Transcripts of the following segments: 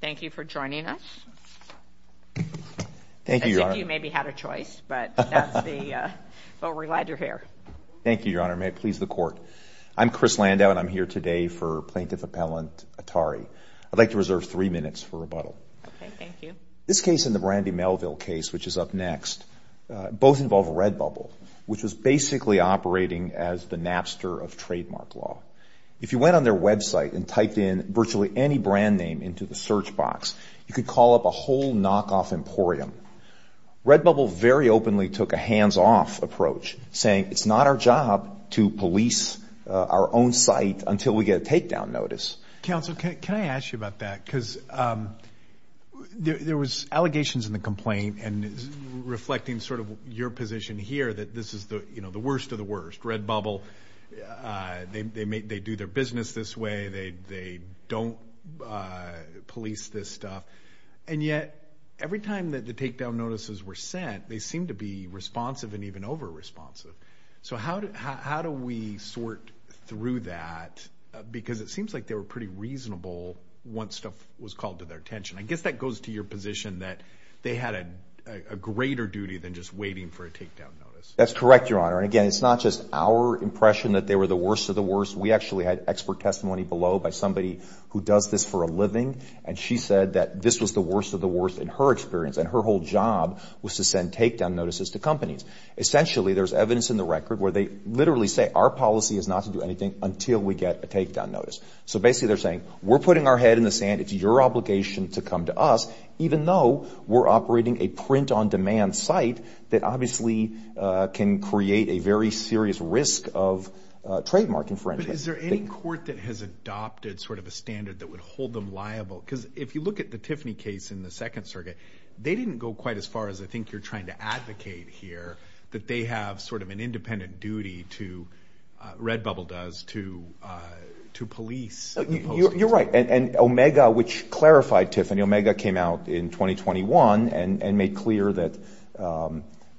Thank you for joining us. Thank you, Your Honor. As if you maybe had a choice, but we're glad you're here. Thank you, Your Honor. May it please the Court. I'm Chris Landau, and I'm here today for Plaintiff Appellant Attari. I'd like to reserve three minutes for rebuttal. Okay, thank you. This case and the Randy Melville case, which is up next, both involve Redbubble, which was basically operating as the napster of trademark law. If you went on their website and typed in virtually any brand name into the search box, you could call up a whole knockoff emporium. Redbubble very openly took a hands-off approach, saying it's not our job to police our own site until we get a takedown notice. Counsel, can I ask you about that? Because there was allegations in the complaint, and reflecting sort of your position here, that this is the worst of the worst. Redbubble, they do their business this way, they don't police this stuff, and yet every time that the takedown notices were sent, they seemed to be responsive and even over-responsive. So how do we sort through that? Because it seems like they were pretty reasonable once stuff was called to their attention. I guess that goes to your position that they had a greater duty than just waiting for a takedown notice. That's correct, Your Honor. And again, it's not just our impression that they were the worst of the worst. We actually had expert testimony below by somebody who does this for a living, and she said that this was the worst of the worst in her experience, and her whole job was to send takedown notices to companies. Essentially, there's evidence in the record where they literally say our policy is not to do anything until we get a takedown notice. So basically they're saying, we're putting our head in the sand. It's your obligation to come to us, even though we're operating a print-on-demand site that obviously can create a very serious risk of trademark infringement. But is there any court that has adopted sort of a standard that would hold them liable? Because if you look at the Tiffany case in the Second Circuit, they didn't go quite as far as I think you're trying to advocate here, that they have sort of an independent duty to, Redbubble does, to police. You're right. And Omega, which clarified Tiffany. Omega came out in 2021 and made clear that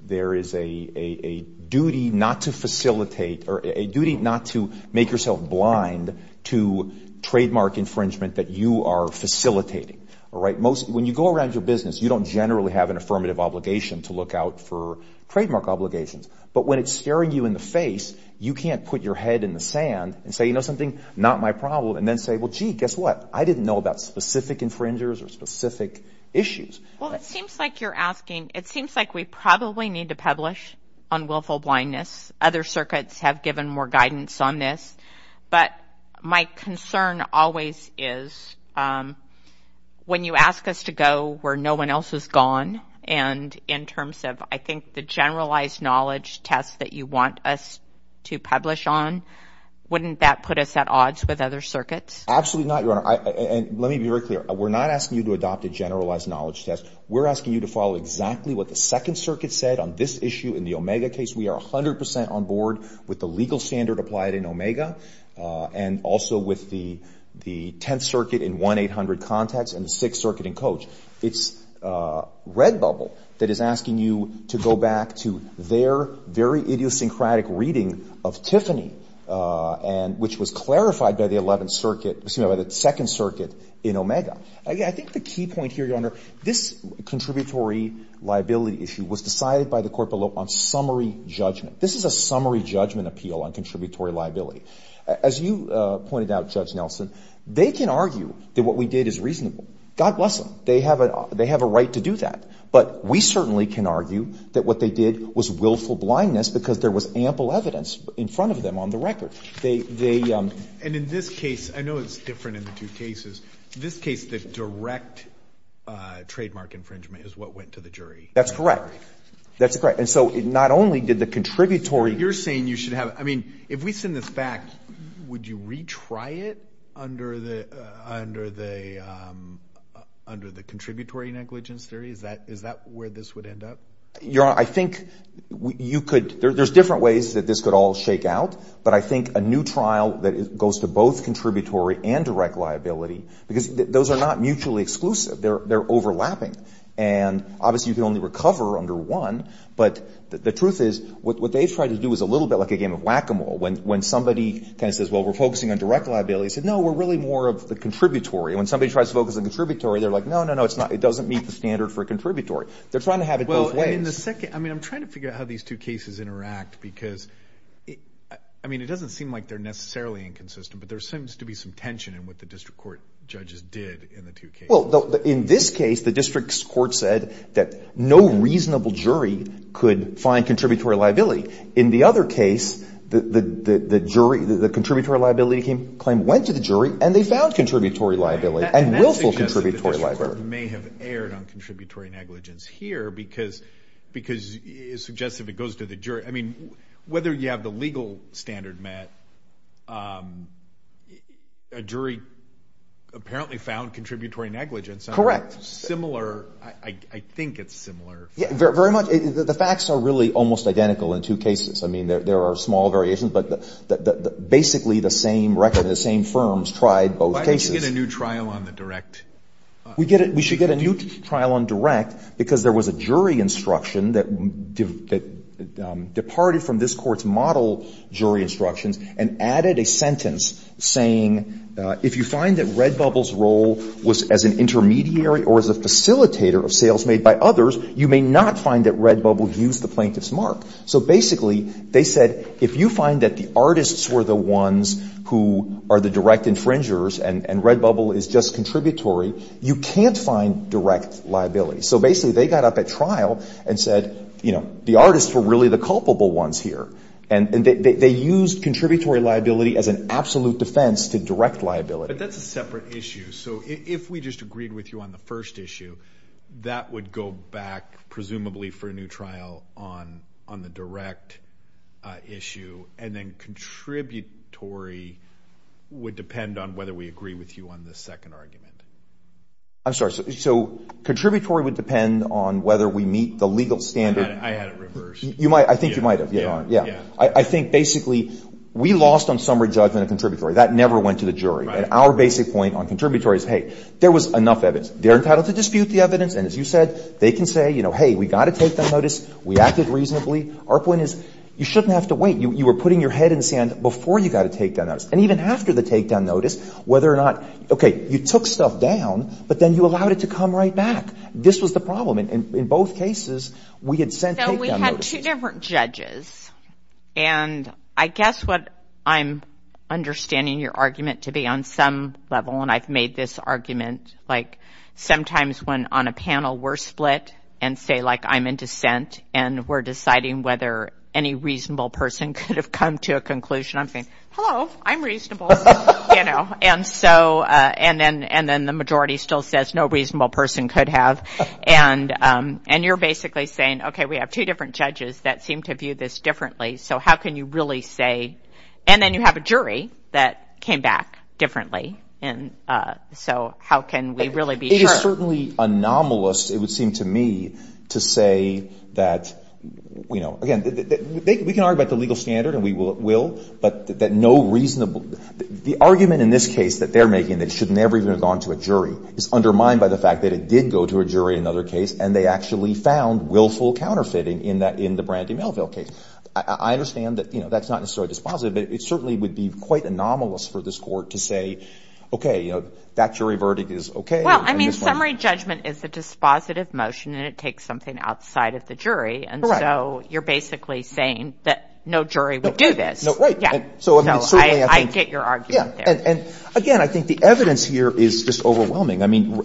there is a duty not to facilitate or a duty not to make yourself blind to trademark infringement that you are facilitating. When you go around your business, you don't generally have an affirmative obligation to look out for trademark obligations. But when it's staring you in the face, you can't put your head in the sand and say, you know something, not my problem, and then say, well, gee, guess what? I didn't know about specific infringers or specific issues. Well, it seems like you're asking, it seems like we probably need to publish on willful blindness. Other circuits have given more guidance on this. But my concern always is when you ask us to go where no one else has gone, and in terms of I think the generalized knowledge test that you want us to publish on, wouldn't that put us at odds with other circuits? Absolutely not, Your Honor. And let me be very clear. We're not asking you to adopt a generalized knowledge test. We're asking you to follow exactly what the Second Circuit said on this issue in the Omega case. We are 100 percent on board with the legal standard applied in Omega and also with the Tenth Circuit in 1-800 Contacts and the Sixth Circuit in Coach. It's Redbubble that is asking you to go back to their very idiosyncratic reading of Tiffany, which was clarified by the Second Circuit in Omega. Again, I think the key point here, Your Honor, this contributory liability issue was decided by the court below on summary judgment. This is a summary judgment appeal on contributory liability. As you pointed out, Judge Nelson, they can argue that what we did is reasonable. God bless them. They have a right to do that. But we certainly can argue that what they did was willful blindness because there was ample evidence in front of them on the record. And in this case, I know it's different in the two cases. In this case, the direct trademark infringement is what went to the jury. That's correct. That's correct. And so not only did the contributory – under the contributory negligence theory, is that where this would end up? Your Honor, I think you could – there's different ways that this could all shake out, but I think a new trial that goes to both contributory and direct liability because those are not mutually exclusive. They're overlapping. And obviously you can only recover under one, but the truth is what they've tried to do is a little bit like a game of whack-a-mole. When somebody kind of says, well, we're focusing on direct liability, I said, no, we're really more of the contributory. When somebody tries to focus on the contributory, they're like, no, no, no. It doesn't meet the standard for a contributory. They're trying to have it both ways. Well, in the second – I mean, I'm trying to figure out how these two cases interact because, I mean, it doesn't seem like they're necessarily inconsistent, but there seems to be some tension in what the district court judges did in the two cases. Well, in this case, the district court said that no reasonable jury could find contributory liability. In the other case, the jury – the contributory liability claim went to the jury and they found contributory liability and willful contributory liability. And that suggests that the district court may have erred on contributory negligence here because it suggests if it goes to the jury – I mean, whether you have the legal standard met, a jury apparently found contributory negligence. Correct. Similar – I think it's similar. Yeah, very much. The facts are really almost identical in two cases. I mean, there are small variations, but basically the same record and the same firms tried both cases. Why don't you get a new trial on the direct? We should get a new trial on direct because there was a jury instruction that departed from this Court's model jury instructions and added a sentence saying if you find that Redbubble's role was as an intermediary or as a facilitator of sales made by others, you may not find that Redbubble used the plaintiff's mark. So basically they said if you find that the artists were the ones who are the direct infringers and Redbubble is just contributory, you can't find direct liability. So basically they got up at trial and said, you know, the artists were really the culpable ones here. And they used contributory liability as an absolute defense to direct liability. But that's a separate issue. So if we just agreed with you on the first issue, that would go back presumably for a new trial on the direct issue. And then contributory would depend on whether we agree with you on the second argument. I'm sorry. So contributory would depend on whether we meet the legal standard. I had it reversed. I think you might have. Yeah. I think basically we lost on summary judgment a contributory. That never went to the jury. And our basic point on contributory is, hey, there was enough evidence. They're entitled to dispute the evidence. And as you said, they can say, you know, hey, we got a takedown notice. We acted reasonably. Our point is you shouldn't have to wait. You were putting your head in the sand before you got a takedown notice. And even after the takedown notice, whether or not, okay, you took stuff down, but then you allowed it to come right back. This was the problem. In both cases, we had sent takedown notices. So we had two different judges. And I guess what I'm understanding your argument to be on some level, and I've made this argument, like sometimes when on a panel we're split and say, like, I'm in dissent, and we're deciding whether any reasonable person could have come to a conclusion, I'm saying, hello, I'm reasonable, you know. And so and then the majority still says no reasonable person could have. And you're basically saying, okay, we have two different judges that seem to view this differently. So how can you really say? And then you have a jury that came back differently. And so how can we really be sure? It is certainly anomalous, it would seem to me, to say that, you know, again, we can argue about the legal standard and we will, but that no reasonable – the argument in this case that they're making that it should never even have gone to a jury is undermined by the fact that it did go to a jury in another case, and they actually found willful counterfeiting in the Brandy Melville case. I understand that, you know, that's not necessarily dispositive, but it certainly would be quite anomalous for this court to say, okay, you know, that jury verdict is okay. Well, I mean, summary judgment is a dispositive motion, and it takes something outside of the jury. Correct. And so you're basically saying that no jury would do this. Right. So I get your argument there. And again, I think the evidence here is just overwhelming. I mean,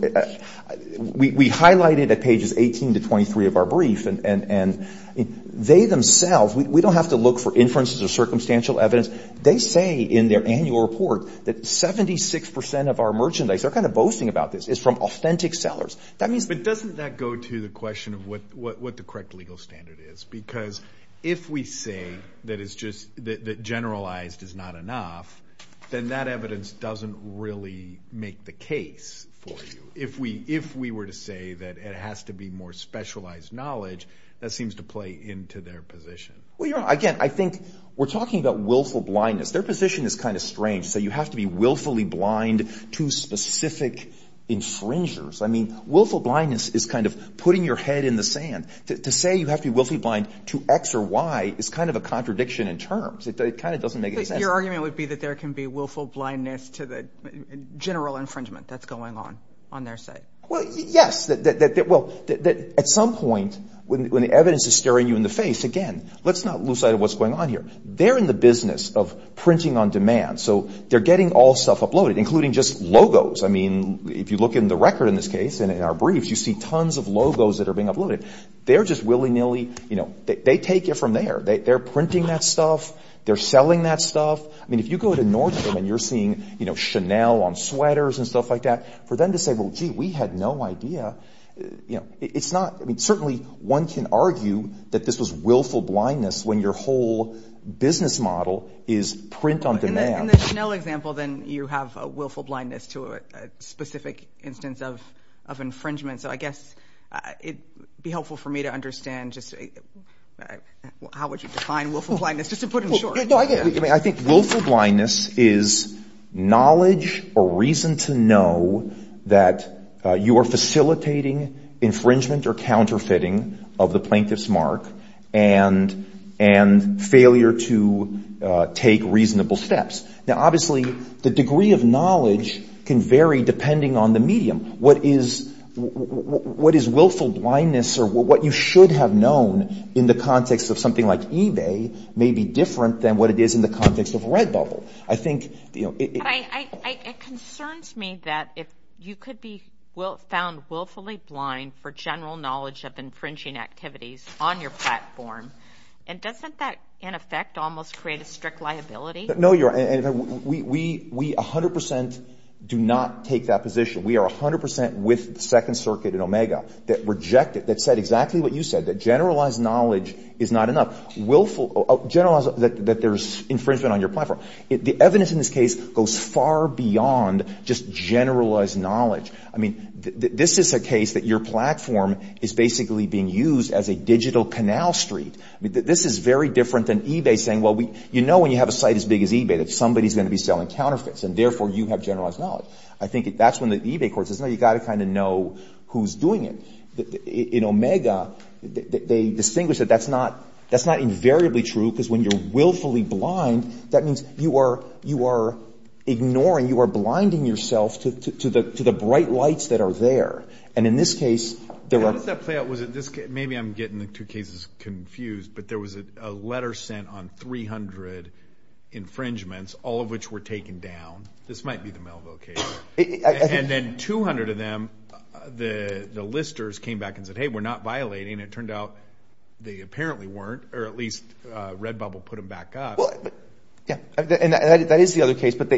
we highlighted at pages 18 to 23 of our brief, and they themselves – we don't have to look for inferences or circumstantial evidence. They say in their annual report that 76% of our merchandise – they're kind of boasting about this – is from authentic sellers. But doesn't that go to the question of what the correct legal standard is? Because if we say that generalized is not enough, then that evidence doesn't really make the case for you. If we were to say that it has to be more specialized knowledge, that seems to play into their position. Well, you're right. Again, I think we're talking about willful blindness. Their position is kind of strange. So you have to be willfully blind to specific infringers. I mean, willful blindness is kind of putting your head in the sand. To say you have to be willfully blind to X or Y is kind of a contradiction in terms. It kind of doesn't make any sense. So your argument would be that there can be willful blindness to the general infringement that's going on on their side? Well, yes. Well, at some point, when the evidence is staring you in the face, again, let's not lose sight of what's going on here. They're in the business of printing on demand. So they're getting all stuff uploaded, including just logos. I mean, if you look in the record in this case and in our briefs, you see tons of logos that are being uploaded. They're just willy-nilly – they take it from there. They're printing that stuff. They're selling that stuff. I mean, if you go to Nordstrom and you're seeing Chanel on sweaters and stuff like that, for them to say, well, gee, we had no idea, it's not – I mean, certainly one can argue that this was willful blindness when your whole business model is print on demand. In the Chanel example, then, you have a willful blindness to a specific instance of infringement. So I guess it would be helpful for me to understand just – how would you define willful blindness, just to put it short? I think willful blindness is knowledge or reason to know that you are facilitating infringement or counterfeiting of the plaintiff's mark and failure to take reasonable steps. Now, obviously, the degree of knowledge can vary depending on the medium. What is willful blindness or what you should have known in the context of something like eBay may be different than what it is in the context of Redbubble. I think – It concerns me that if you could be found willfully blind for general knowledge of infringing activities on your platform, and doesn't that, in effect, almost create a strict liability? No, you're – we 100 percent do not take that position. We are 100 percent with Second Circuit and Omega that reject it, that said exactly what you said, that generalized knowledge is not enough. Generalize that there's infringement on your platform. The evidence in this case goes far beyond just generalized knowledge. I mean, this is a case that your platform is basically being used as a digital canal street. This is very different than eBay saying, well, you know when you have a site as big as eBay that somebody's going to be selling counterfeits, and therefore you have generalized knowledge. Well, I think that's when the eBay court says, no, you've got to kind of know who's doing it. In Omega, they distinguish that that's not invariably true because when you're willfully blind, that means you are ignoring, you are blinding yourself to the bright lights that are there. And in this case, there are – How did that play out? Maybe I'm getting the two cases confused, but there was a letter sent on 300 infringements, all of which were taken down. This might be the Melville case. And then 200 of them, the listers came back and said, hey, we're not violating. It turned out they apparently weren't, or at least Redbubble put them back up. Yeah, and that is the other case. But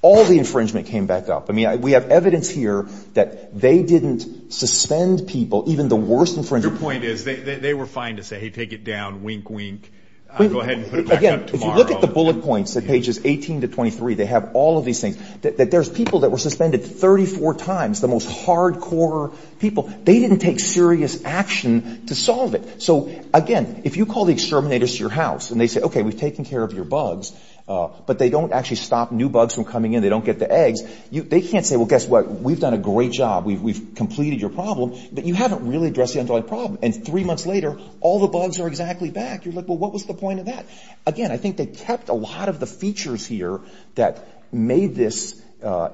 all the infringement came back up. I mean, we have evidence here that they didn't suspend people, even the worst infringement. Your point is they were fine to say, hey, take it down, wink, wink. Go ahead and put it back up tomorrow. Again, if you look at the bullet points at pages 18 to 23, they have all of these things. There's people that were suspended 34 times, the most hardcore people. They didn't take serious action to solve it. So, again, if you call the exterminators to your house and they say, okay, we've taken care of your bugs, but they don't actually stop new bugs from coming in, they don't get the eggs, they can't say, well, guess what? We've done a great job. We've completed your problem, but you haven't really addressed the underlying problem. And three months later, all the bugs are exactly back. You're like, well, what was the point of that? Again, I think they kept a lot of the features here that made this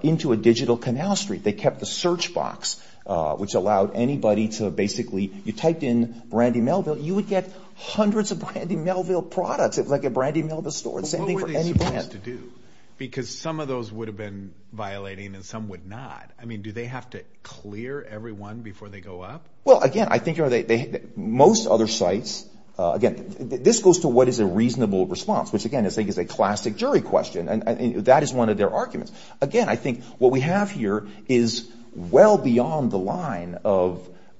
into a digital canal street. They kept the search box, which allowed anybody to basically, you typed in Brandy Melville, you would get hundreds of Brandy Melville products. It was like a Brandy Melville store. The same thing for any brand. What were they supposed to do? Because some of those would have been violating and some would not. I mean, do they have to clear everyone before they go up? Well, again, I think most other sites, again, this goes to what is a reasonable response, which, again, I think is a classic jury question, and that is one of their arguments. Again, I think what we have here is well beyond the line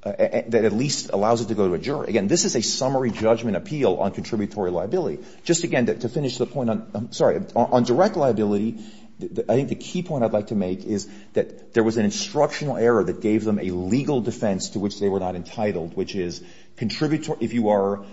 that at least allows it to go to a jury. Again, this is a summary judgment appeal on contributory liability. Just again, to finish the point on direct liability, I think the key point I'd like to make is that there was an instructional error that gave them a legal defense to which they were not entitled, which is if you are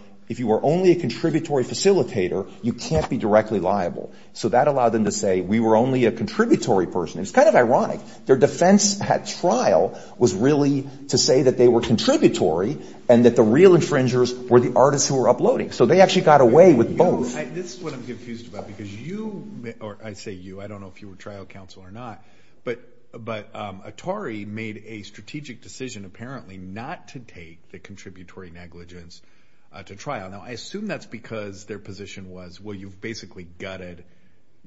only a contributory facilitator, you can't be directly liable. So that allowed them to say we were only a contributory person. It's kind of ironic. Their defense at trial was really to say that they were contributory and that the real infringers were the artists who were uploading. So they actually got away with both. This is what I'm confused about because you, or I say you, I don't know if you were trial counsel or not, but Atari made a strategic decision apparently not to take the contributory negligence to trial. Now, I assume that's because their position was, well, you've basically gutted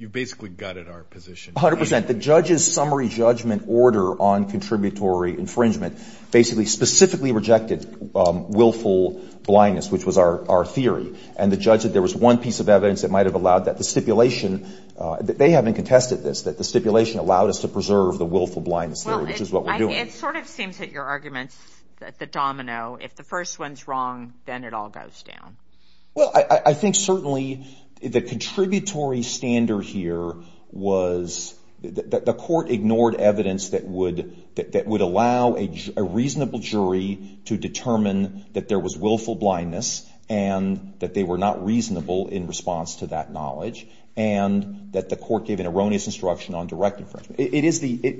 our position. 100%. The judge's summary judgment order on contributory infringement basically specifically rejected willful blindness, which was our theory. And the judge said there was one piece of evidence that might have allowed that. The stipulation, they haven't contested this, that the stipulation allowed us to preserve the willful blindness theory, which is what we're doing. It sort of seems that your argument's the domino. If the first one's wrong, then it all goes down. Well, I think certainly the contributory standard here was that the court ignored evidence that would allow a reasonable jury to determine that there was willful blindness and that they were not reasonable in response to that knowledge and that the court gave an erroneous instruction on direct infringement.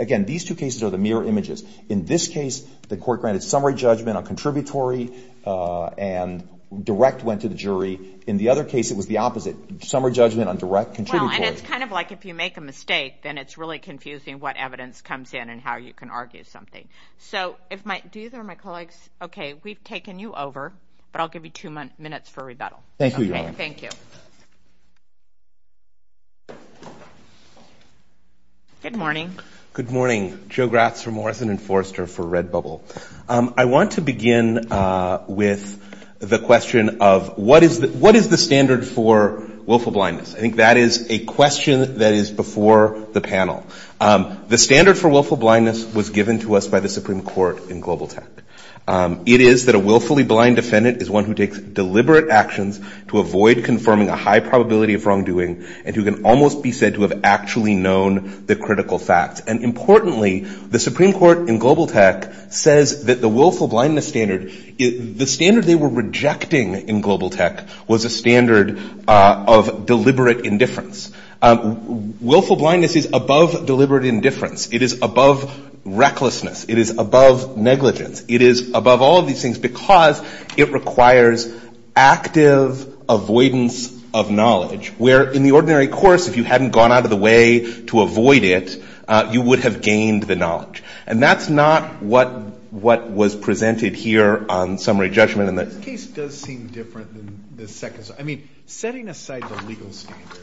Again, these two cases are the mirror images. In this case, the court granted summary judgment on contributory and direct went to the jury. In the other case, it was the opposite, summary judgment on direct contributory. Well, and it's kind of like if you make a mistake, then it's really confusing what evidence comes in and how you can argue something. So do either of my colleagues, okay, we've taken you over, but I'll give you two minutes for rebuttal. Thank you, Your Honor. Okay, thank you. Good morning. Good morning. Joe Gratz for Morrison & Forrester for Red Bubble. I want to begin with the question of what is the standard for willful blindness? I think that is a question that is before the panel. The standard for willful blindness was given to us by the Supreme Court in Global Tech. It is that a willfully blind defendant is one who takes deliberate actions to avoid confirming a high probability of wrongdoing and who can almost be said to have actually known the critical facts. And importantly, the Supreme Court in Global Tech says that the willful blindness standard, the standard they were rejecting in Global Tech was a standard of deliberate indifference. Willful blindness is above deliberate indifference. It is above recklessness. It is above negligence. It is above all of these things because it requires active avoidance of knowledge, where in the ordinary course, if you hadn't gone out of the way to avoid it, you would have gained the knowledge. And that's not what was presented here on summary judgment. This case does seem different than the second. I mean, setting aside the legal standard,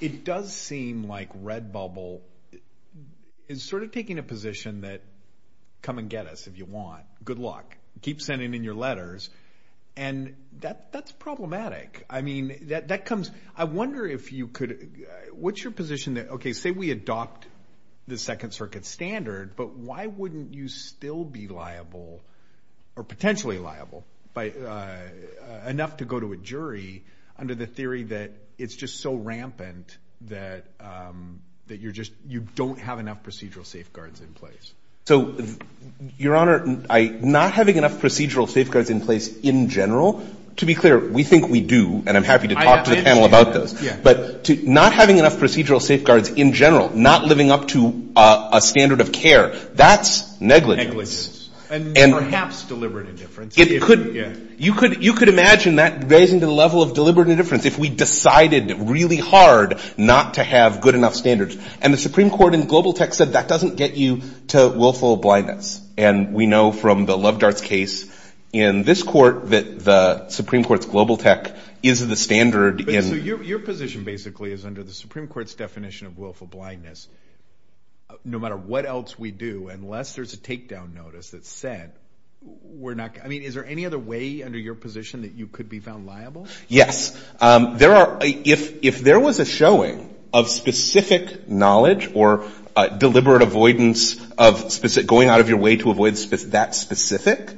it does seem like Red Bubble is sort of taking a position that, come and get us if you want. Good luck. Keep sending in your letters. And that's problematic. I mean, that comes. I wonder if you could. What's your position that, okay, say we adopt the Second Circuit standard, but why wouldn't you still be liable or potentially liable enough to go to a jury under the theory that it's just so rampant that you don't have enough procedural safeguards in place? So, Your Honor, not having enough procedural safeguards in place in general, to be clear, we think we do, and I'm happy to talk to the panel about this. But not having enough procedural safeguards in general, not living up to a standard of care, that's negligence. Negligence. And perhaps deliberate indifference. You could imagine that raising the level of deliberate indifference if we decided really hard not to have good enough standards. And the Supreme Court in Global Tech said that doesn't get you to willful blindness. And we know from the Love Darts case in this court that the Supreme Court's Global Tech is the standard. So your position basically is under the Supreme Court's definition of willful blindness, no matter what else we do, unless there's a takedown notice that said we're not, I mean, is there any other way under your position that you could be found liable? Yes. There are, if there was a showing of specific knowledge or deliberate avoidance of specific, going out of your way to avoid that specific,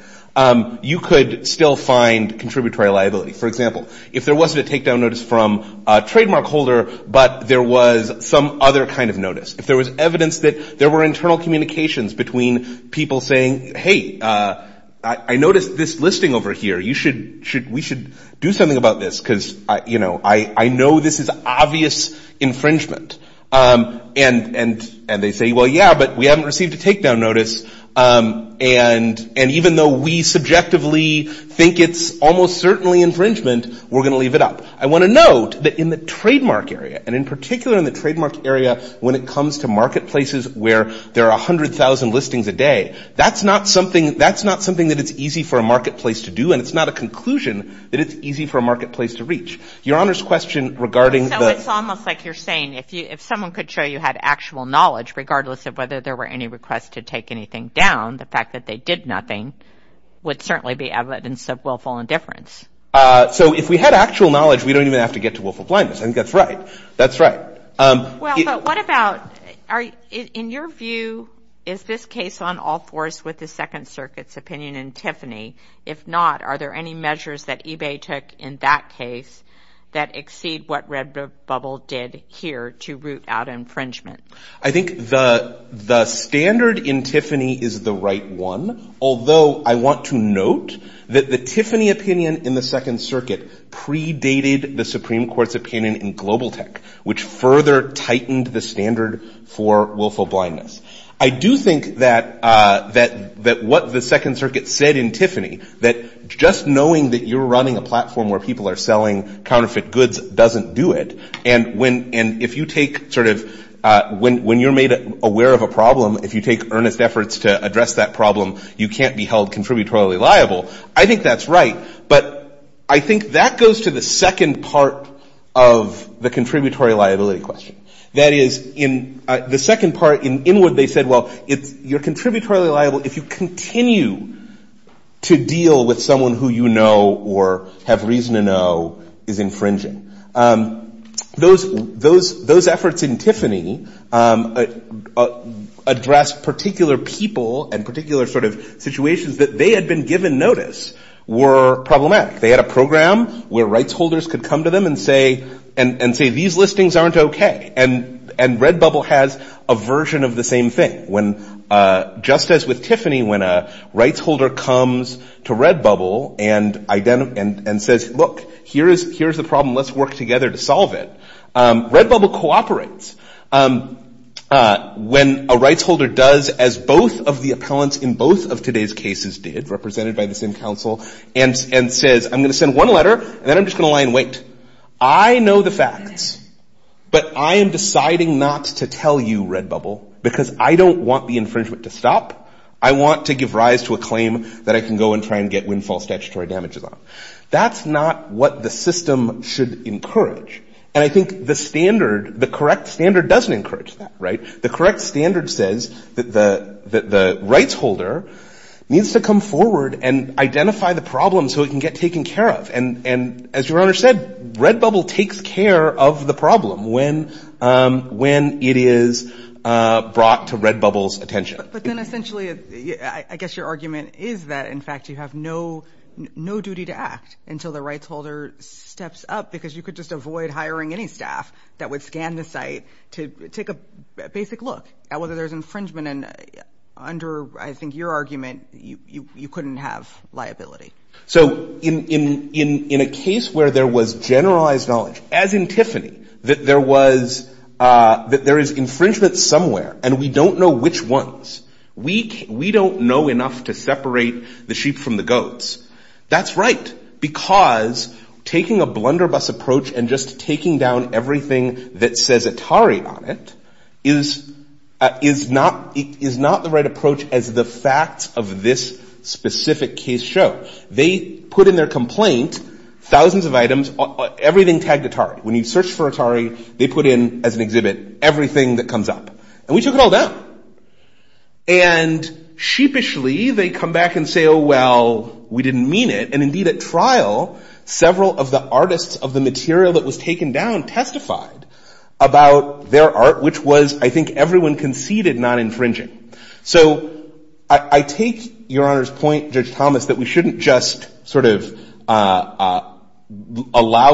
you could still find contributory liability. For example, if there wasn't a takedown notice from a trademark holder, but there was some other kind of notice. If there was evidence that there were internal communications between people saying, hey, I noticed this listing over here. We should do something about this because I know this is obvious infringement. And they say, well, yeah, but we haven't received a takedown notice. And even though we subjectively think it's almost certainly infringement, we're going to leave it up. I want to note that in the trademark area, and in particular in the trademark area, when it comes to marketplaces where there are 100,000 listings a day, that's not something that it's easy for a marketplace to do, and it's not a conclusion that it's easy for a marketplace to reach. Your Honor's question regarding the. So it's almost like you're saying if someone could show you had actual knowledge, regardless of whether there were any requests to take anything down, the fact that they did nothing would certainly be evidence of willful indifference. So if we had actual knowledge, we don't even have to get to willful blindness. I think that's right. That's right. Well, but what about in your view, is this case on all fours with the Second Circuit's opinion in Tiffany? If not, are there any measures that eBay took in that case that exceed what RedBubble did here to root out infringement? I think the standard in Tiffany is the right one, although I want to note that the Tiffany opinion in the Second Circuit predated the Supreme Court's opinion in Global Tech, which further tightened the standard for willful blindness. I do think that what the Second Circuit said in Tiffany, that just knowing that you're running a platform where people are selling counterfeit goods doesn't do it, and if you take sort of when you're made aware of a problem, if you take earnest efforts to address that problem, you can't be held contributory liable. I think that's right, but I think that goes to the second part of the contributory liability question. That is, in the second part, in Inwood, they said, well, you're contributory liable if you continue to deal with someone who you know or have reason to know is infringing. Those efforts in Tiffany addressed particular people and particular sort of situations that they had been given notice were problematic. They had a program where rights holders could come to them and say, these listings aren't okay, and RedBubble has a version of the same thing. Just as with Tiffany, when a rights holder comes to RedBubble and says, look, here's the problem, let's work together to solve it, RedBubble cooperates. When a rights holder does, as both of the appellants in both of today's cases did, represented by the same counsel, and says, I'm going to send one letter, and then I'm just going to lie in wait, I know the facts, but I am deciding not to tell you, RedBubble, because I don't want the infringement to stop. I want to give rise to a claim that I can go and try and get windfall statutory damages on. That's not what the system should encourage. And I think the standard, the correct standard doesn't encourage that, right? The correct standard says that the rights holder needs to come forward and identify the problem so it can get taken care of. And as your Honor said, RedBubble takes care of the problem when it is brought to RedBubble's attention. But then essentially, I guess your argument is that, in fact, you have no duty to act until the rights holder steps up, because you could just avoid hiring any staff that would scan the site to take a basic look at whether there's infringement. And under, I think, your argument, you couldn't have liability. So in a case where there was generalized knowledge, as in Tiffany, that there was, that there is infringement somewhere, and we don't know which ones, we don't know enough to separate the sheep from the goats. That's right, because taking a blunderbuss approach and just taking down everything that says Atari on it, is not the right approach as the facts of this specific case show. They put in their complaint, thousands of items, everything tagged Atari. When you search for Atari, they put in, as an exhibit, everything that comes up. And we took it all down. And sheepishly, they come back and say, oh, well, we didn't mean it. And indeed, at trial, several of the artists of the material that was taken down testified about their art, which was, I think, everyone conceded non-infringing. So I take Your Honor's point, Judge Thomas, that we shouldn't just sort of allow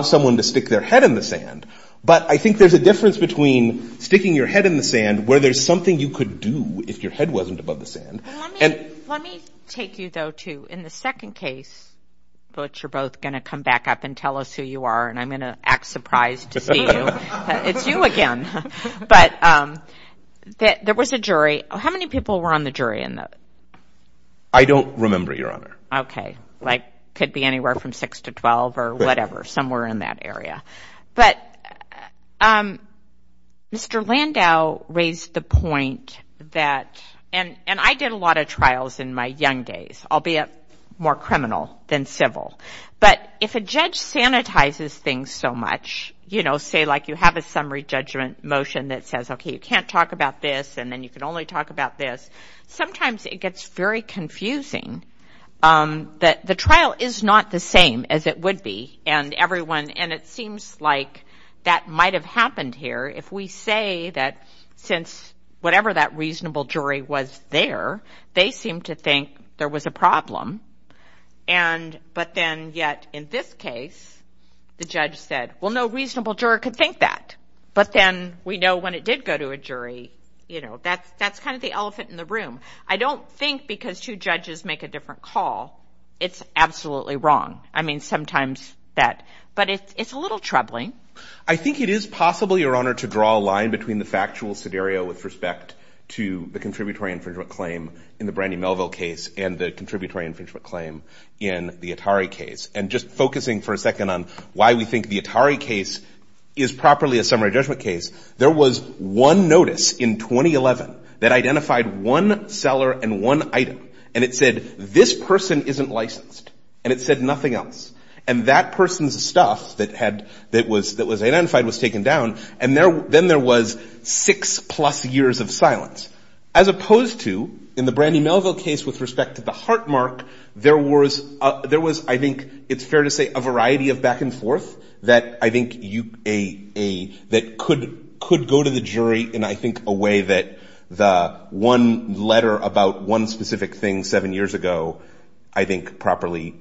someone to stick their head in the sand. But I think there's a difference between sticking your head in the sand, where there's something you could do if your head wasn't above the sand. And let me take you, though, to in the second case, but you're both going to come back up and tell us who you are, and I'm going to act surprised to see you. It's you again. But there was a jury. How many people were on the jury in that? I don't remember, Your Honor. Okay. Like could be anywhere from 6 to 12 or whatever, somewhere in that area. But Mr. Landau raised the point that, and I did a lot of trials in my young days, albeit more criminal than civil. But if a judge sanitizes things so much, you know, say like you have a summary judgment motion that says, okay, you can't talk about this, and then you can only talk about this, sometimes it gets very confusing that the trial is not the same as it would be. And it seems like that might have happened here if we say that since whatever that reasonable jury was there, they seemed to think there was a problem. But then yet in this case, the judge said, well, no reasonable juror could think that. But then we know when it did go to a jury, you know, that's kind of the elephant in the room. I don't think because two judges make a different call, it's absolutely wrong. I mean, sometimes that. But it's a little troubling. I think it is possible, Your Honor, to draw a line between the factual scenario with respect to the contributory infringement claim in the Brandy Melville case and the contributory infringement claim in the Atari case. And just focusing for a second on why we think the Atari case is properly a summary judgment case, there was one notice in 2011 that identified one seller and one item. And it said, this person isn't licensed. And it said nothing else. And that person's stuff that was identified was taken down. And then there was six-plus years of silence. As opposed to in the Brandy Melville case with respect to the heart mark, there was, I think it's fair to say, a variety of back and forth that I think could go to the jury in, I think, a way that the one letter about one specific thing seven years ago I think properly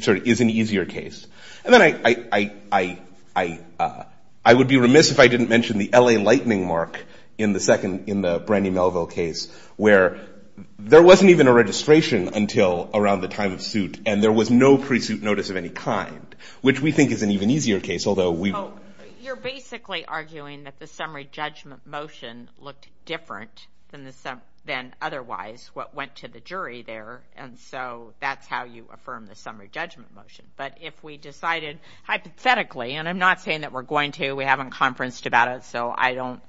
sort of is an easier case. And then I would be remiss if I didn't mention the L.A. Lightning mark in the second, the second Brandy Melville case where there wasn't even a registration until around the time of suit. And there was no pre-suit notice of any kind, which we think is an even easier case, although we... You're basically arguing that the summary judgment motion looked different than otherwise, what went to the jury there. And so that's how you affirm the summary judgment motion. But if we decided hypothetically, and I'm not saying that we're going to. We haven't conferenced about it. So I don't,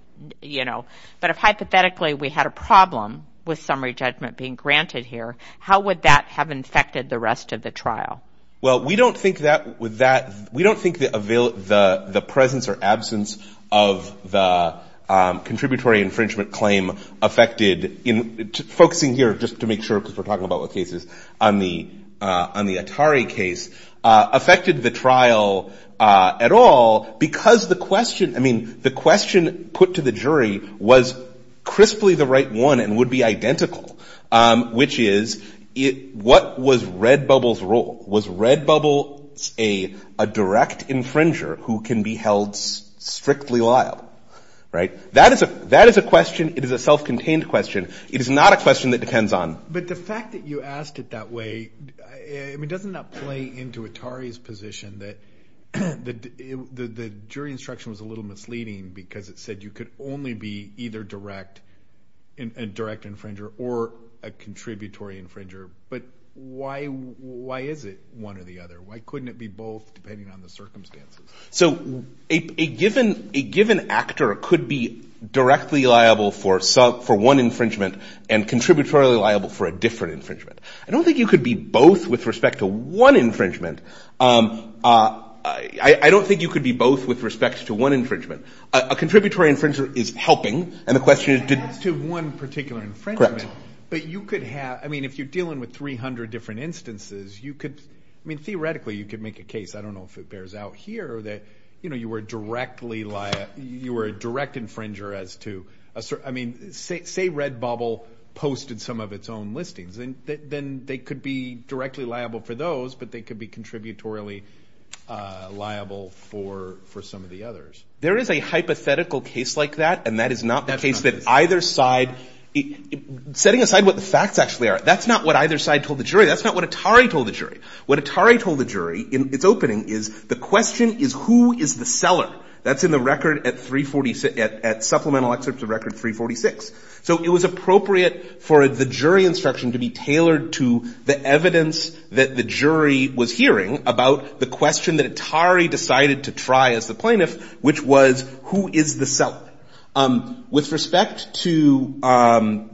you know, but if hypothetically we had a problem with summary judgment being granted here, how would that have infected the rest of the trial? Well, we don't think that would that... We don't think the presence or absence of the contributory infringement claim affected... Focusing here, just to make sure, because we're talking about what cases on the Atari case, affected the trial at all because the question... I mean, the question put to the jury was crisply the right one and would be identical, which is what was Redbubble's role? Was Redbubble a direct infringer who can be held strictly liable? Right? That is a question. It is a self-contained question. It is not a question that depends on... But the fact that you asked it that way, I mean, doesn't that play into Atari's position that the jury instruction was a little misleading because it said you could only be either a direct infringer or a contributory infringer? But why is it one or the other? Why couldn't it be both depending on the circumstances? So a given actor could be directly liable for one infringement and contributory liable for a different infringement. I don't think you could be both with respect to one infringement. I don't think you could be both with respect to one infringement. A contributory infringer is helping, and the question is... As to one particular infringement, but you could have... I mean, if you're dealing with 300 different instances, you could... I mean, theoretically, you could make a case. I don't know if it bears out here that you were a direct infringer as to... I mean, say Red Bubble posted some of its own listings. Then they could be directly liable for those, but they could be contributory liable for some of the others. There is a hypothetical case like that, and that is not the case that either side... Setting aside what the facts actually are, that's not what either side told the jury. That's not what Atari told the jury. What Atari told the jury in its opening is the question is who is the seller. That's in the record at supplemental excerpts of record 346. So it was appropriate for the jury instruction to be tailored to the evidence that the jury was hearing about the question that Atari decided to try as the plaintiff, which was who is the seller. With respect to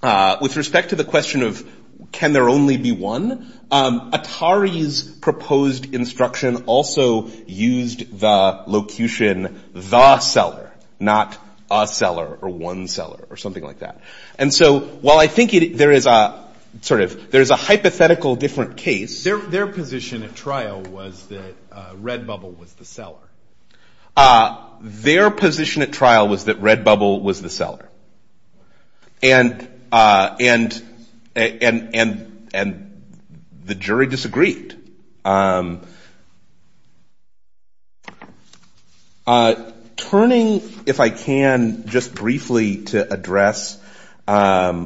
the question of can there only be one, Atari's proposed instruction also used the locution the seller, not a seller or one seller or something like that. And so while I think there is a hypothetical different case... Their position at trial was that Red Bubble was the seller. Their position at trial was that Red Bubble was the seller. And the jury disagreed. Turning, if I can, just briefly to address the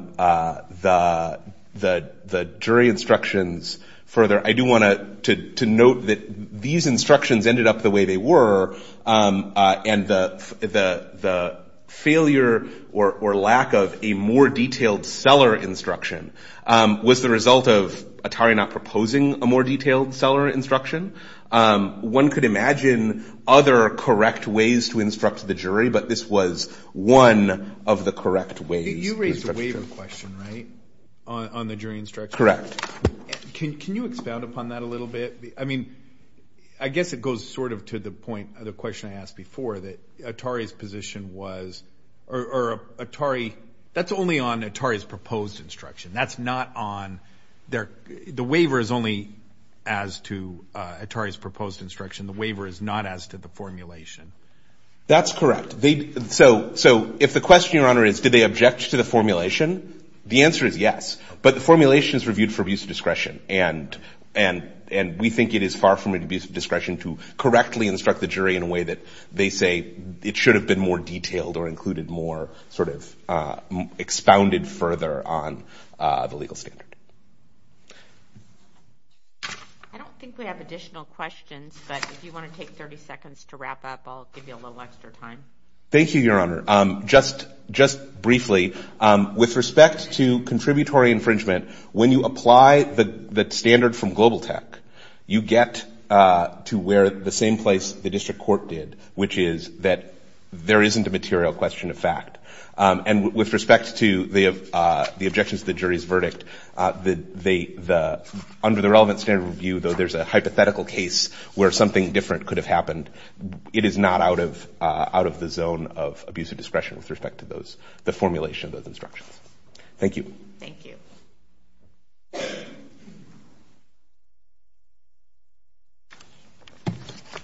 jury instructions further, I do want to note that these instructions ended up the way they were and the failure or lack of a more detailed seller instruction was the result of Atari not proposing a more detailed seller instruction. One could imagine other correct ways to instruct the jury, but this was one of the correct ways. You raised a waiver question, right, on the jury instruction. Correct. Can you expound upon that a little bit? I guess it goes sort of to the point of the question I asked before, that Atari's position was, or Atari, that's only on Atari's proposed instruction. That's not on their, the waiver is only as to Atari's proposed instruction. The waiver is not as to the formulation. That's correct. So if the question, Your Honor, is did they object to the formulation, the answer is yes. But the formulation is reviewed for abuse of discretion. And we think it is far from abuse of discretion to correctly instruct the jury in a way that they say it should have been more detailed or included more sort of expounded further on the legal standard. I don't think we have additional questions, but if you want to take 30 seconds to wrap up, I'll give you a little extra time. Thank you, Your Honor. Just briefly, with respect to contributory infringement, when you apply the standard from Global Tech, you get to where the same place the district court did, which is that there isn't a material question of fact. And with respect to the objections to the jury's verdict, under the relevant standard review, though there's a hypothetical case where something different could have happened, it is not out of the zone of abuse of discretion with respect to the formulation of those instructions. Thank you. Thank you.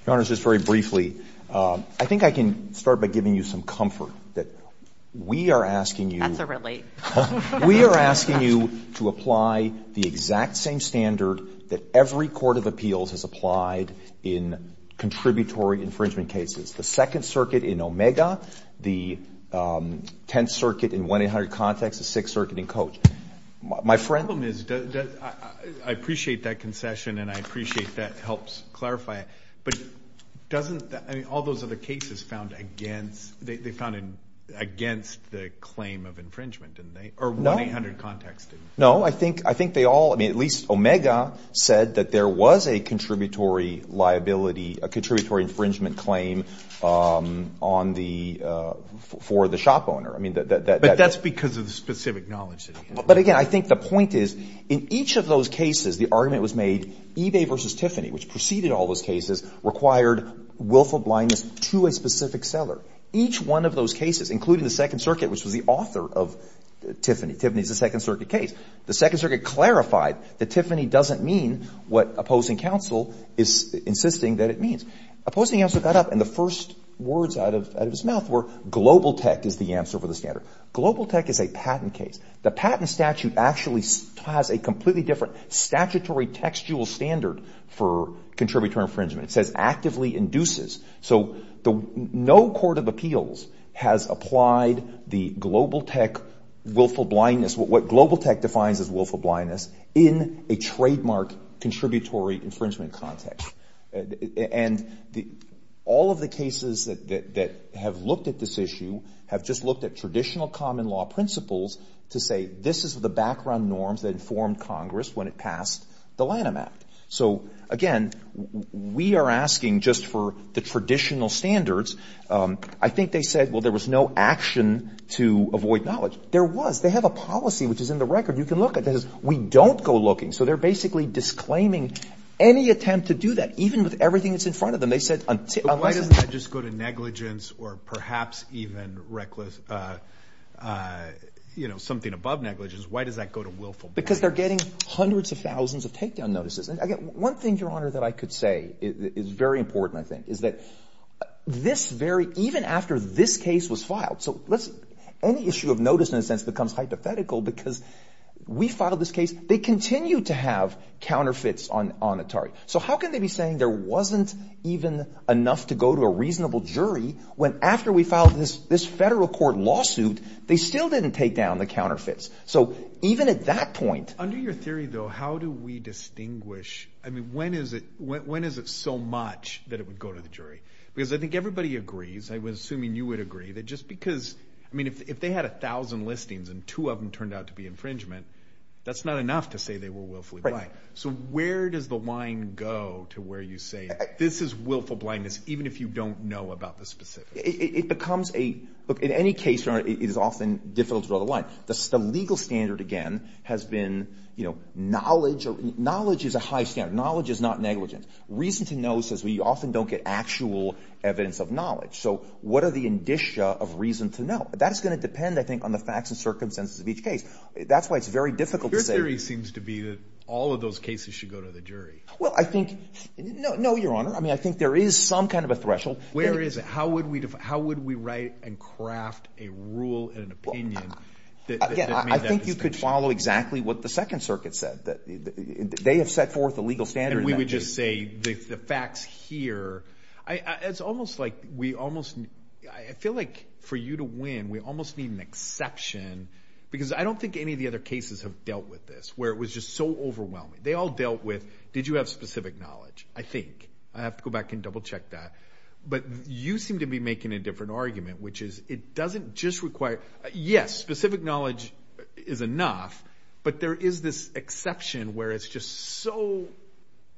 Your Honor, just very briefly, I think I can start by giving you some comfort that we are asking you. That's a relief. We are asking you to apply the exact same standard that every court of appeals has applied in contributory infringement cases. The Second Circuit in Omega, the Tenth Circuit in 1-800-CONTEXT, the Sixth Circuit in Coach. The problem is, I appreciate that concession, and I appreciate that it helps clarify it, but doesn't all those other cases found against the claim of infringement, or 1-800-CONTEXT? No, I think they all, at least Omega, said that there was a contributory liability, a contributory infringement claim on the — for the shop owner. I mean, that — But that's because of the specific knowledge that he has. But, again, I think the point is, in each of those cases the argument was made eBay v. Tiffany, which preceded all those cases, required willful blindness to a specific seller. Each one of those cases, including the Second Circuit, which was the author of Tiffany, Tiffany is a Second Circuit case, the Second Circuit clarified that Tiffany doesn't mean what opposing counsel is insisting that it means. Opposing counsel got up, and the first words out of his mouth were, global tech is the answer for the standard. Global tech is a patent case. The patent statute actually has a completely different statutory textual standard for contributory infringement. It says actively induces. So no court of appeals has applied the global tech willful blindness, what global tech defines as willful blindness, in a trademark contributory infringement context. And all of the cases that have looked at this issue have just looked at traditional common law principles to say this is the background norms that informed Congress when it passed the Lanham Act. So, again, we are asking just for the traditional standards. I think they said, well, there was no action to avoid knowledge. There was. They have a policy, which is in the record. You can look at this. We don't go looking. So they're basically disclaiming any attempt to do that, even with everything that's in front of them. Why doesn't that just go to negligence or perhaps even reckless, you know, something above negligence? Why does that go to willful blindness? Because they're getting hundreds of thousands of takedown notices. And, again, one thing, Your Honor, that I could say is very important, I think, is that this very, even after this case was filed, any issue of notice, in a sense, becomes hypothetical because we filed this case. They continue to have counterfeits on Atari. So how can they be saying there wasn't even enough to go to a reasonable jury when after we filed this federal court lawsuit, they still didn't take down the counterfeits? So even at that point. Under your theory, though, how do we distinguish? I mean, when is it so much that it would go to the jury? Because I think everybody agrees. I was assuming you would agree that just because, I mean, if they had a thousand listings and two of them turned out to be infringement, that's not enough to say they were willfully blind. Right. So where does the line go to where you say this is willful blindness even if you don't know about the specifics? It becomes a, look, in any case, Your Honor, it is often difficult to draw the line. The legal standard, again, has been, you know, knowledge is a high standard. Knowledge is not negligence. Reason to know says we often don't get actual evidence of knowledge. So what are the indicia of reason to know? That's going to depend, I think, on the facts and circumstances of each case. That's why it's very difficult to say. Your theory seems to be that all of those cases should go to the jury. Well, I think, no, Your Honor. I mean, I think there is some kind of a threshold. Where is it? How would we write and craft a rule and an opinion that made that distinction? I think you could follow exactly what the Second Circuit said. They have set forth a legal standard. And we would just say the facts here. It's almost like we almost, I feel like for you to win, we almost need an exception. Because I don't think any of the other cases have dealt with this. Where it was just so overwhelming. They all dealt with, did you have specific knowledge? I think. I have to go back and double check that. But you seem to be making a different argument. Which is, it doesn't just require, yes, specific knowledge is enough. But there is this exception where it's just so,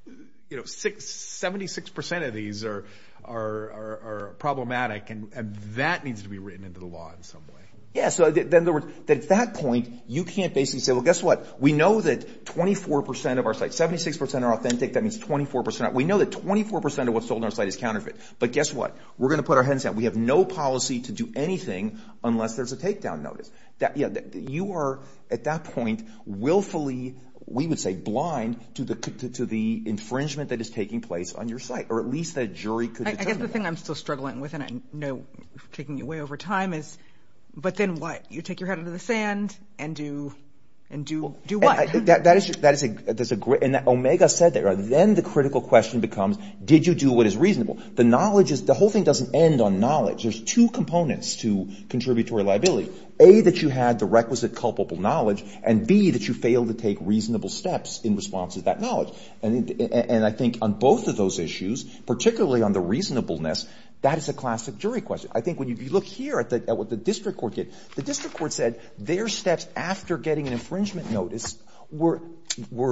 you know, 76% of these are problematic. And that needs to be written into the law in some way. Yeah. So, in other words, at that point, you can't basically say, well, guess what? We know that 24% of our sites, 76% are authentic. That means 24%. We know that 24% of what's sold on our site is counterfeit. But guess what? We're going to put our heads down. We have no policy to do anything unless there's a takedown notice. You are, at that point, willfully, we would say blind to the infringement that is taking place on your site. Or at least the jury could determine that. I guess the thing I'm still struggling with, and I know I'm taking you way over time is, but then what? You take your head under the sand and do what? That is a great, and Omega said that. Then the critical question becomes, did you do what is reasonable? The knowledge is, the whole thing doesn't end on knowledge. There's two components to contributory liability. A, that you had the requisite culpable knowledge, and B, that you failed to take reasonable steps in response to that knowledge. And I think on both of those issues, particularly on the reasonableness, that is a classic jury question. I think when you look here at what the district court did, the district court said their steps after getting an infringement notice were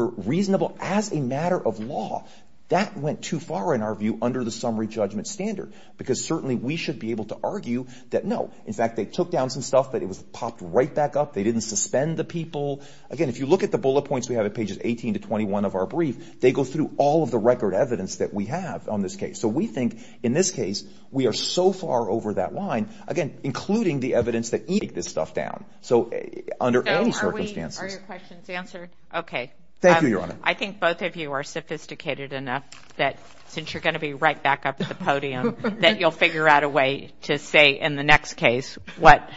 reasonable as a matter of law. That went too far, in our view, under the summary judgment standard because certainly we should be able to argue that no. In fact, they took down some stuff, but it was popped right back up. They didn't suspend the people. Again, if you look at the bullet points we have at pages 18 to 21 of our brief, they go through all of the record evidence that we have on this case. So we think in this case we are so far over that line, again, including the evidence that you take this stuff down. So under any circumstances. Are your questions answered? Okay. Thank you, Your Honor. I think both of you are sophisticated enough that since you're going to be right back up at the podium, that you'll figure out a way to say in the next case what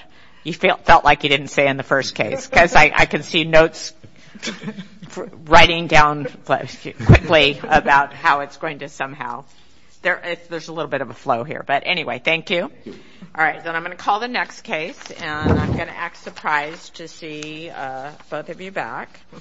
you felt like you didn't say in the first case. Because I can see notes writing down quickly about how it's going to somehow. There's a little bit of a flow here. But anyway, thank you. All right. Then I'm going to call the next case, and I'm going to act surprised to see both of you back.